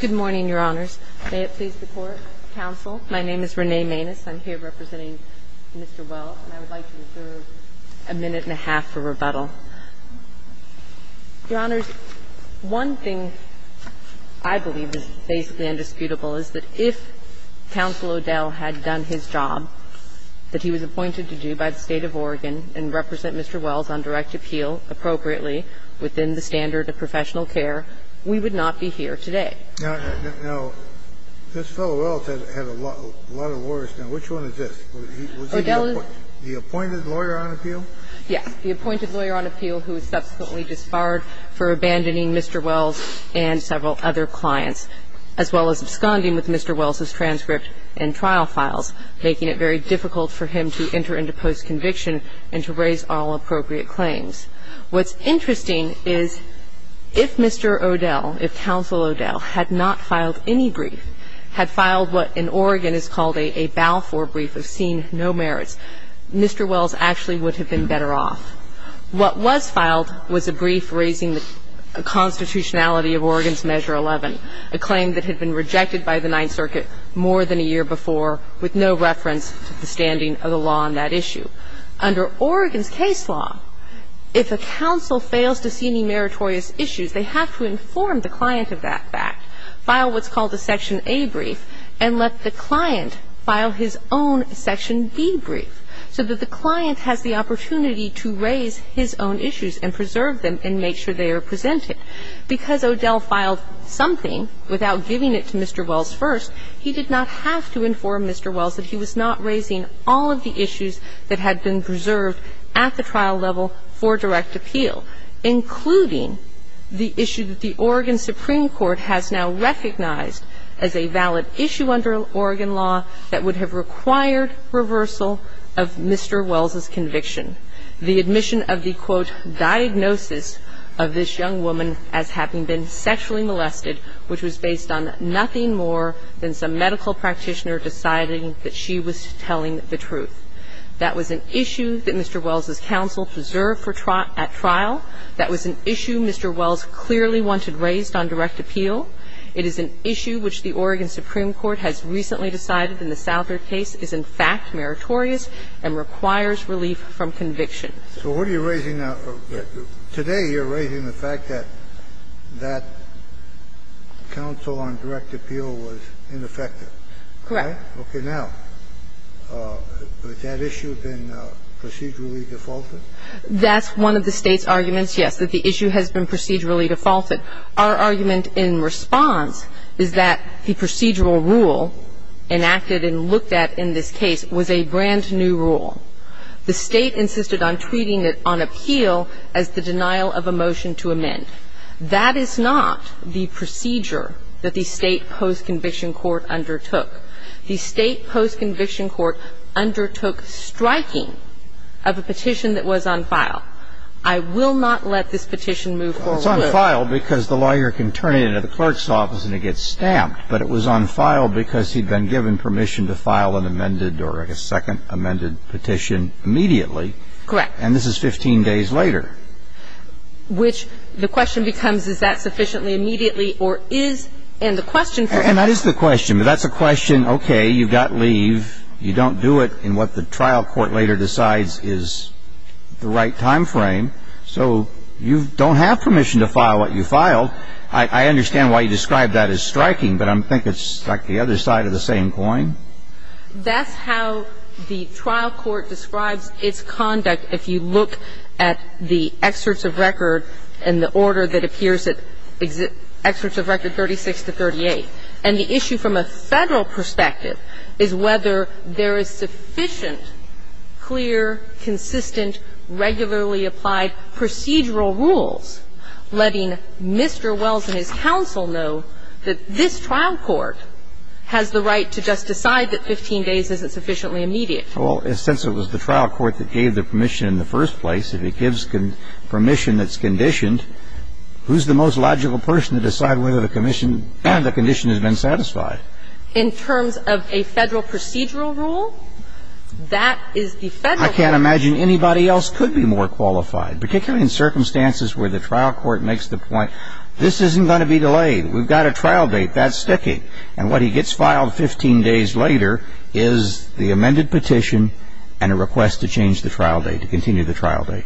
Good morning, Your Honors. May it please the Court, Counsel. My name is Renee Maness. I'm here representing Mr. Wells, and I would like to reserve a minute and a half for rebuttal. Your Honors, one thing I believe is basically indisputable is that if Counsel O'Dell had done his job that he was appointed to do by the State of Oregon and represent Mr. Wells on direct appeal appropriately within the standard of professional care, we would not be here today. Now, this fellow Wells had a lot of lawyers, now which one is this? O'Dell is The appointed lawyer on appeal? Yes, the appointed lawyer on appeal who was subsequently disbarred for abandoning Mr. Wells and several other clients, as well as absconding with Mr. Wells' transcript and trial files, making it very difficult for him to enter into post-conviction and to raise all appropriate claims. What's interesting is if Mr. O'Dell, if Counsel O'Dell had not filed any brief, had filed what in Oregon is called a bow-for brief of seeing no merits, Mr. Wells actually would have been better off. What was filed was a brief raising the constitutionality of Oregon's Measure 11, a claim that had been rejected by the Ninth Circuit more than a year before with no reference to the standing of the law on that issue. Under Oregon's case law, if a counsel fails to see any meritorious issues, they have to inform the client of that fact, file what's called a Section A brief, and let the client file his own Section B brief so that the client has the opportunity to raise his own issues and preserve them and make sure they are presented. Because O'Dell filed something without giving it to Mr. Wells first, he did not have to inform Mr. Wells that he was not raising all of the issues that had been preserved at the trial level for direct appeal, including the issue that the Oregon Supreme Court has now recognized as a valid issue under Oregon law that would have required reversal of Mr. Wells' conviction. The admission of the, quote, diagnosis of this young woman as having been sexually molested, which was based on nothing more than some medical practitioner deciding that she was telling the truth. That was an issue that Mr. Wells' counsel preserved for trial at trial. That was an issue Mr. Wells clearly wanted raised on direct appeal. file his own Section B brief so that the client has the opportunity to raise his own issues and preserve them and make sure they are presented at trial level for direct appeal. It is an issue which the Oregon Supreme Court has recently decided in the Souther case is in fact meritorious and requires relief from conviction. So what are you raising now? Today you're raising the fact that that counsel on direct appeal was ineffective. Correct. Okay. Now, has that issue been procedurally defaulted? That's one of the State's arguments, yes, that the issue has been procedurally defaulted. Our argument in response is that the procedural rule enacted and looked at in this case was a brand-new rule. The State insisted on treating it on appeal as the denial of a motion to amend. That is not the procedure that the State post-conviction court undertook. The State post-conviction court undertook striking of a petition that was on file. I will not let this petition move forward. Well, it's on file because the lawyer can turn it into the clerk's office and it gets stamped. But it was on file because he'd been given permission to file an amended or, I guess, second amended petition immediately. Correct. And this is 15 days later. Which the question becomes is that sufficiently immediately or is, and the question for him And that is the question. That's a question, okay, you've got leave. You don't do it in what the trial court later decides is the right time frame. So you don't have permission to file what you filed. I understand why you described that as striking, but I think it's like the other side of the same coin. That's how the trial court describes its conduct if you look at the excerpts of record and the order that appears at excerpts of record 36 to 38. And the issue from a Federal perspective is whether there is sufficient, clear, consistent, regularly applied procedural rules letting Mr. Wells and his counsel know that this trial court has the right to just decide that 15 days isn't sufficiently immediate. Well, since it was the trial court that gave the permission in the first place, if it gives permission that's conditioned, who's the most logical person to decide whether the condition has been satisfied? In terms of a Federal procedural rule, that is the Federal court. I can't imagine anybody else could be more qualified, particularly in circumstances where the trial court makes the point, this isn't going to be delayed. We've got a trial date. That's sticking. And what he gets filed 15 days later is the amended petition and a request to change the trial date, to continue the trial date.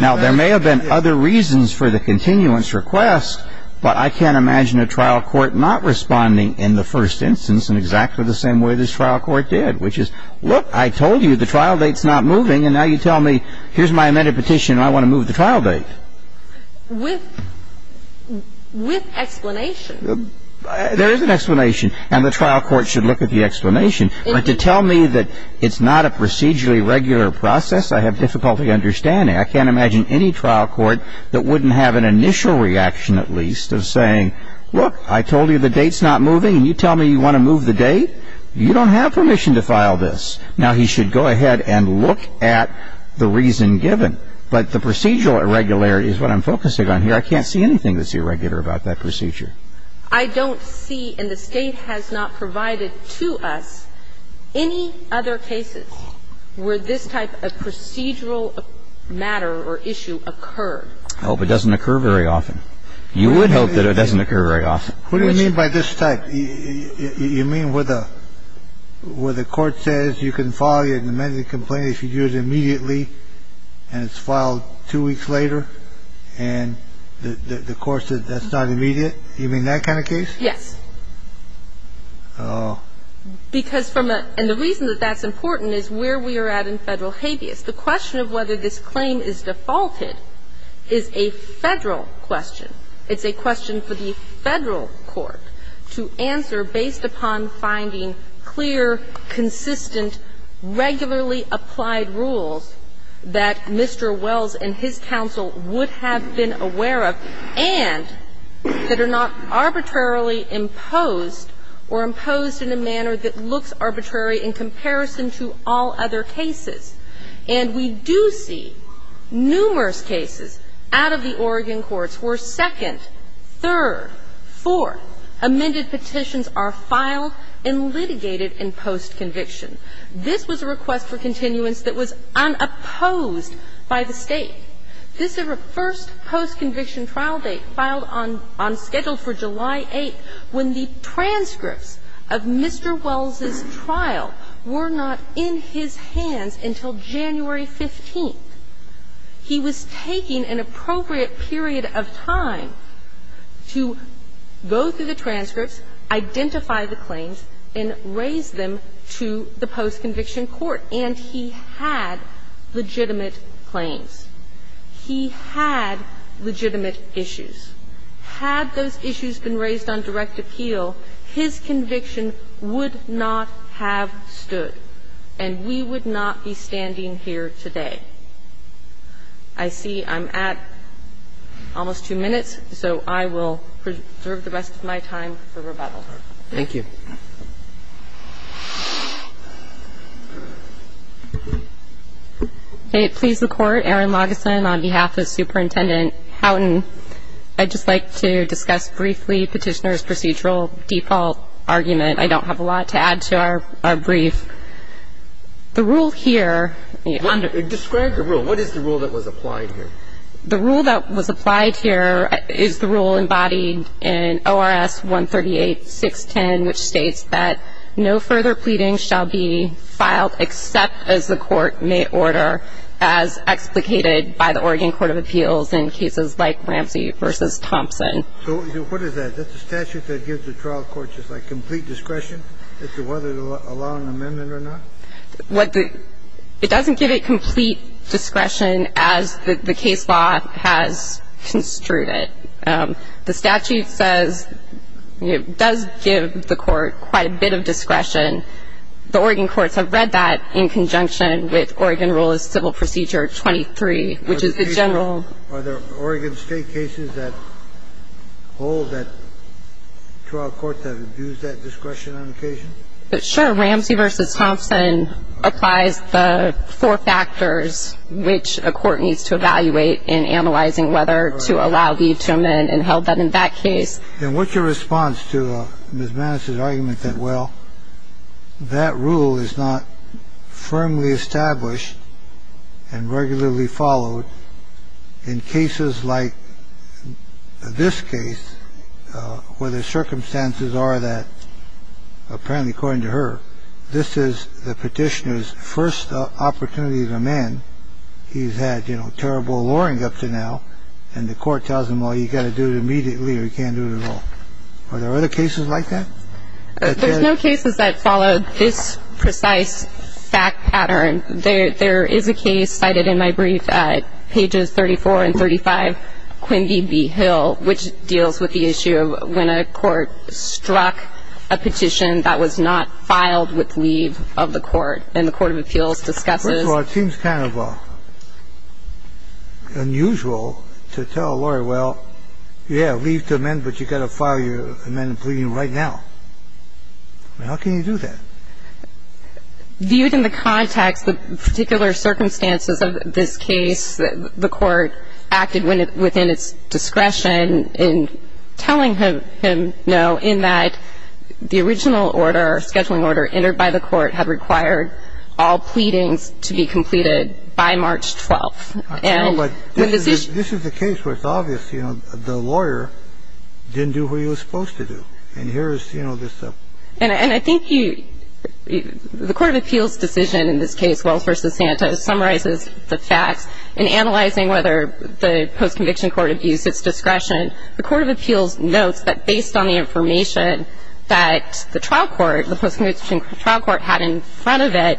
Now, there may have been other reasons for the continuance request, but I can't imagine a trial court not responding in the first instance in exactly the same way this trial court did, which is, look, I told you the trial date's not moving, and now you tell me here's my amended petition and I want to move the trial date. With explanation. There is an explanation. And the trial court should look at the explanation. But to tell me that it's not a procedurally regular process, I have difficulty understanding. I can't imagine any trial court that wouldn't have an initial reaction, at least, of saying, look, I told you the date's not moving, and you tell me you want to move the date? You don't have permission to file this. Now, he should go ahead and look at the reason given. But the procedural irregularity is what I'm focusing on here. I can't see anything that's irregular about that procedure. I don't see, and the State has not provided to us, any other cases where this type of procedural matter or issue occurred. Oh, but it doesn't occur very often. You would hope that it doesn't occur very often. What do you mean by this type? You mean where the court says you can file your amended complaint if you do it immediately and it's filed two weeks later, and the court says that's not immediate? You mean that kind of case? Yes. Because from a – and the reason that that's important is where we are at in Federal habeas. The question of whether this claim is defaulted is a Federal question. It's a question for the Federal court to answer based upon finding clear, consistent, regularly applied rules that Mr. Wells and his counsel would have been aware of and that are not arbitrarily imposed or imposed in a manner that looks arbitrary in comparison to all other cases. And we do see numerous cases out of the Oregon courts where second, third, four amended petitions are filed and litigated in post-conviction. This was a request for continuance that was unopposed by the State. This first post-conviction trial date filed on schedule for July 8th, when the transcripts of Mr. Wells' trial were not in his hands until January 15th. He was taking an appropriate period of time to go through the transcripts, identify the claims, and raise them to the post-conviction court, and he had legitimate claims. He had legitimate issues. Had those issues been raised on direct appeal, his conviction would not have stood. And we would not be standing here today. I see I'm at almost two minutes, so I will preserve the rest of my time for rebuttal. Thank you. MS. LAGESAN. May it please the Court, Erin Lagesan on behalf of Superintendent Houghton. I'd just like to discuss briefly Petitioner's procedural default argument. I don't have a lot to add to our brief. The rule here. MR. LAGESAN. What is the rule that was applied here? MS. LAGESAN. The rule that was applied here is the rule embodied in ORS 138.610, which states that no further pleading shall be filed except as the court may order as explicated by the Oregon Court of Appeals in cases like Ramsey v. Thompson. MR. LAGESAN. So what is that? That's a statute that gives the trial court just like complete discretion as to whether to allow an amendment or not? MS. LAGESAN. The statute says it does give the court quite a bit of discretion. The Oregon courts have read that in conjunction with Oregon Rule of Civil Procedure 23, which is the general. MR. LAGESAN. Are there Oregon state cases that hold that trial court to use that discretion on occasion? MS. LAGESAN. Ramsey v. Thompson applies the four factors which a court needs to evaluate in answering the question. LAGESAN. And what's your response to Ms. Maness' argument that, well, that rule is not firmly established and regularly followed in cases like this case where the circumstances are that, apparently, according to her, this is the petitioner's first opportunity to amend. And the court tells him, well, you've got to do it immediately or you can't do it at all. Are there other cases like that? MS. MANESS. There's no cases that follow this precise fact pattern. There is a case cited in my brief at pages 34 and 35, Quimby v. Hill, which deals with the issue of when a court struck a petition that was not filed with leave of the court. And the court of appeals discusses. And it's kind of unusual to tell a lawyer, well, yeah, leave to amend, but you've got to file your amended pleading right now. How can you do that? MS. LAGESAN. Viewed in the context of particular circumstances of this case, the court acted within its discretion in telling him no in that the original order, scheduling order, entered by the court had required all parties to file their amended pleading by March 12th. And when this is the case where it's obvious, you know, the lawyer didn't do what he was supposed to do. And here is, you know, this. MS. MANESS. And I think the court of appeals decision in this case, Wells v. Santa, summarizes the facts in analyzing whether the post-conviction court abused its discretion. The court of appeals notes that based on the information that the trial court, the post-conviction trial court had in front of it,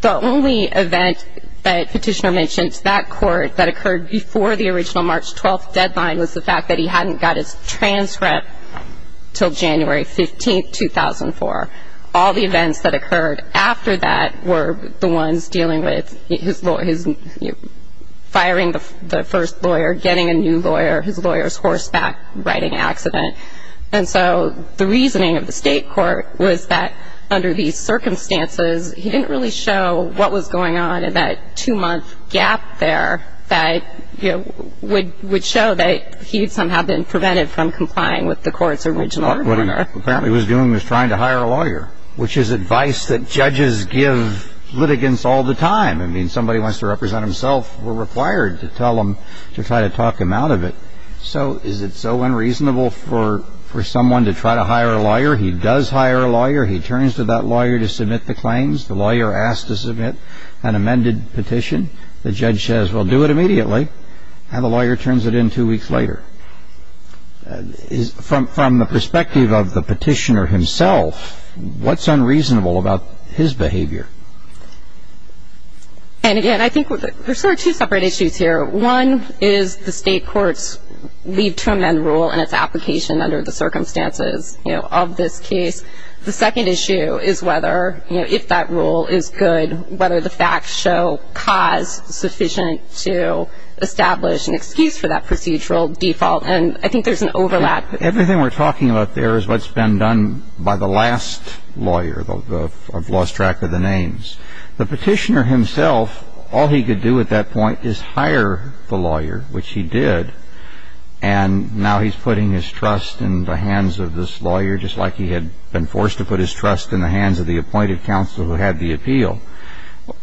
the only event that Petitioner mentions, that court that occurred before the original March 12th deadline was the fact that he hadn't got his transcript until January 15th, 2004. All the events that occurred after that were the ones dealing with his, you know, firing the first lawyer, getting a new lawyer, his lawyer's horseback riding accident. And so the reasoning of the state court was that under these circumstances, he didn't really show what was going on in that two-month gap there that, you know, would show that he had somehow been prevented from complying with the court's original order. MR. NEUMANN. What he apparently was doing was trying to hire a lawyer, which is advice that judges give litigants all the time. I mean, somebody wants to represent himself, we're required to tell him to try to talk him out of it. So is it so unreasonable for someone to try to hire a lawyer? He does hire a lawyer. He turns to that lawyer to submit the claims. The lawyer asks to submit an amended petition. The judge says, well, do it immediately. And the lawyer turns it in two weeks later. From the perspective of the Petitioner himself, what's unreasonable about his behavior? MS. NEUMANN. Well, I think the first issue is whether the Petitioner was able to leave to amend rule and its application under the circumstances, you know, of this case. The second issue is whether, you know, if that rule is good, whether the facts show cause sufficient to establish an excuse for that procedural default. And I think there's an overlap. MR. NEUMANN. Everything we're talking about there is what's been done by the last lawyer. I've lost track of the names. The Petitioner himself, all he could do at that point is hire the lawyer, which he did. And now he's putting his trust in the hands of this lawyer, just like he had been forced to put his trust in the hands of the appointed counsel who had the appeal.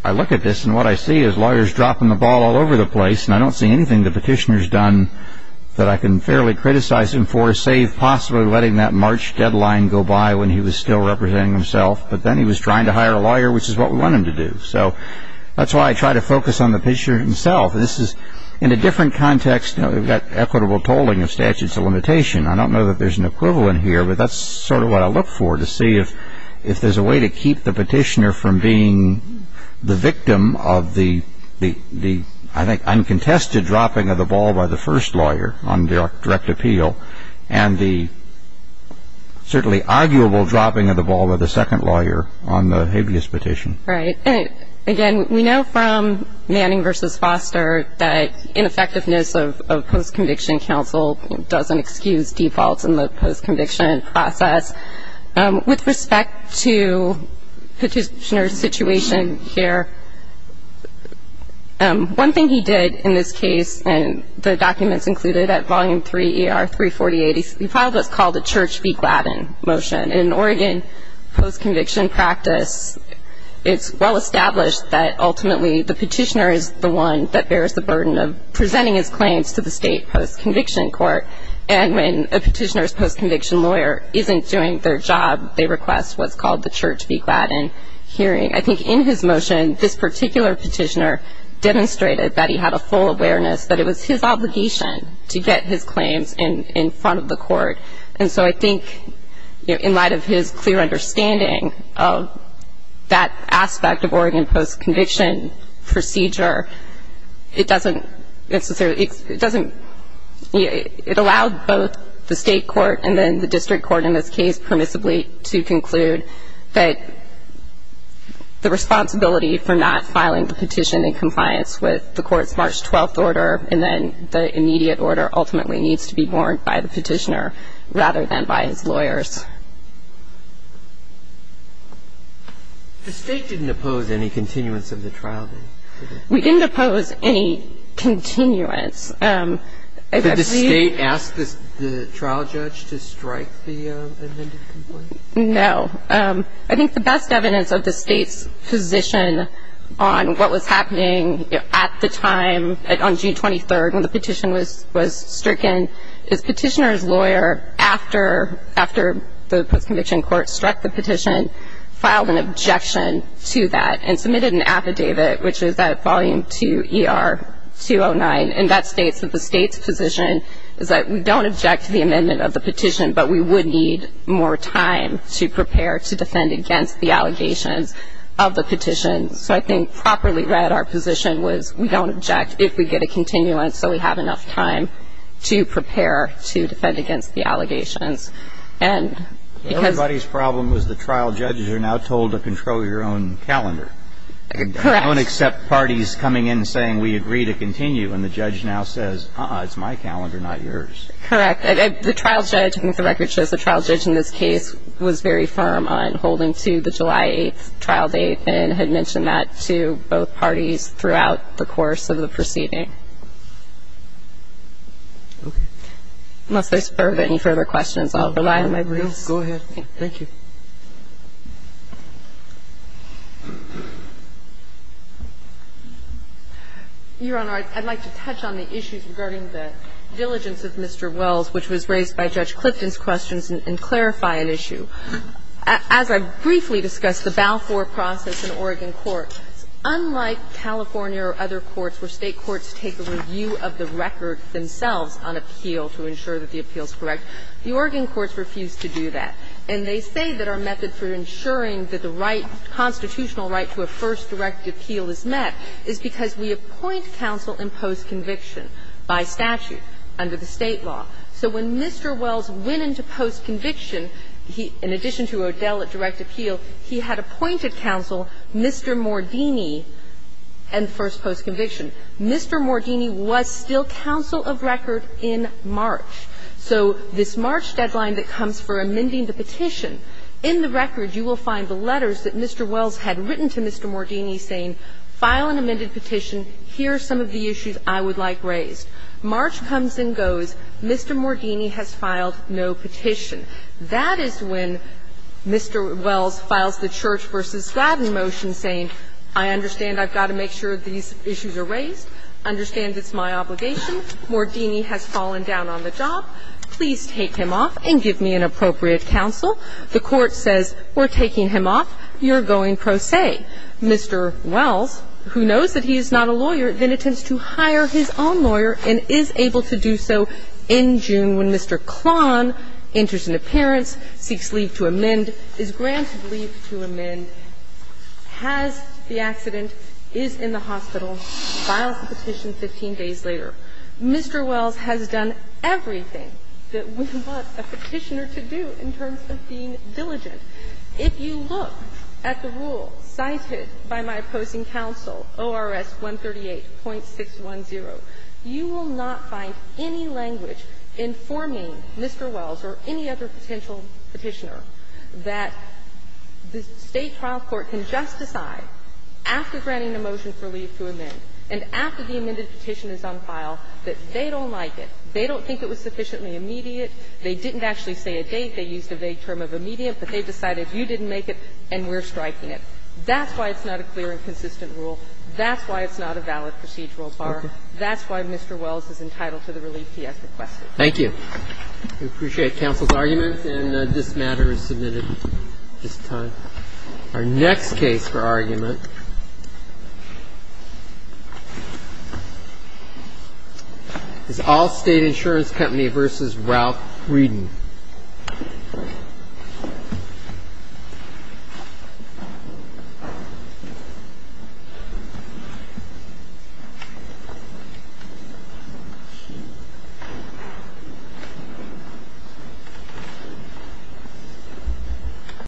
I look at this, and what I see is lawyers dropping the ball all over the place, and I don't see anything the Petitioner's done that I can fairly criticize him for, save possibly letting that March deadline go by when he was still representing himself. But then he was trying to hire a lawyer, which is what we want him to do. So that's why I try to focus on the Petitioner himself. This is in a different context. You know, we've got equitable tolling of statutes of limitation. I don't know that there's an equivalent here, but that's sort of what I look for, to see if there's a way to keep the Petitioner from being the victim of the, I think, uncontested dropping of the ball by the first lawyer on direct appeal, and the certainly arguable dropping of the ball by the second lawyer on the habeas petition. Right. And again, we know from Manning v. Foster that ineffectiveness of post-conviction counsel doesn't excuse defaults in the post-conviction process. With respect to Petitioner's situation here, one thing he did in this case, and the documents included at Volume 3, ER 348, he filed what's called a Church v. Gladden motion. In an Oregon post-conviction practice, it's well established that ultimately the Petitioner is the one that bears the burden of presenting his claims to the state post-conviction court. And when a Petitioner's post-conviction lawyer isn't doing their job, they request what's called the Church v. Gladden hearing. I think in his motion, this particular Petitioner demonstrated that he had a full awareness that it was his obligation to get his claims in front of the court. And so I think in light of his clear understanding of that aspect of Oregon post-conviction procedure, it doesn't necessarily, it doesn't, it allowed both the state court and then the district court in this case permissibly to conclude that the responsibility for not filing the petition in compliance with the court's March 12th order and then the immediate order ultimately needs to be borne by the Petitioner rather than by his lawyers. The state didn't oppose any continuance of the trial, did it? We didn't oppose any continuance. Did the state ask the trial judge to strike the amended complaint? No. I think the best evidence of the state's position on what was happening at the time, on June 23rd when the petition was stricken, is Petitioner's lawyer, after the post-conviction court struck the petition, filed an objection to that and submitted an affidavit, which is at volume 2 ER 209. And that states that the state's position is that we don't object to the amendment of the petition, but we would need more time to prepare to defend against the allegations of the petition. So I think properly read, our position was we don't object if we get a continuance so we have enough time to prepare to defend against the allegations. Everybody's problem was the trial judges are now told to control your own calendar. Correct. They don't accept parties coming in saying we agree to continue and the judge now says, uh-uh, it's my calendar, not yours. Correct. The trial judge, I think the record shows the trial judge in this case was very firm on holding to the July 8th trial date and had mentioned that to both parties throughout the course of the proceeding. Okay. Unless there's any further questions, I'll rely on my briefs. Go ahead. Thank you. Your Honor, I'd like to touch on the issues regarding the diligence of Mr. Wells, which was raised by Judge Clifton's questions, and clarify an issue. As I briefly discussed, the Balfour process in Oregon court, unlike California or other courts where State courts take a review of the record themselves on appeal to ensure that the appeal is correct, the Oregon courts refuse to do that. And they say that our method for ensuring that the right, constitutional right to a first direct appeal is met is because we appoint counsel in post-conviction by statute under the State law. So when Mr. Wells went into post-conviction, in addition to O'Dell at direct appeal, he had appointed counsel Mr. Mordini in first post-conviction. Mr. Mordini was still counsel of record in March. So this March deadline that comes for amending the petition, in the record you will find the letters that Mr. Wells had written to Mr. Mordini saying, file an amended petition, here are some of the issues I would like raised. March comes and goes. Mr. Mordini has filed no petition. That is when Mr. Wells files the Church v. Glavine motion saying, I understand I've got to make sure these issues are raised, understand it's my obligation, Mordini has fallen down on the job. Please take him off and give me an appropriate counsel. The Court says, we're taking him off, you're going pro se. Mr. Wells, who knows that he is not a lawyer, then attempts to hire his own lawyer and is able to do so in June when Mr. Klon enters into appearance, seeks leave to amend, is granted leave to amend, has the accident, is in the hospital, files the petition 15 days later. Mr. Wells has done everything that we want a petitioner to do in terms of being diligent. If you look at the rule cited by my opposing counsel, ORS 138.610, you will not find any language informing Mr. Wells or any other potential petitioner that the State is not a valid procedural bar. That's why Mr. Wells is entitled to the relief he has requested. Thank you. We appreciate counsel's argument, and this matter is submitted at this time. Our next case for argument. Is Allstate Insurance Company v. Ralph Readon.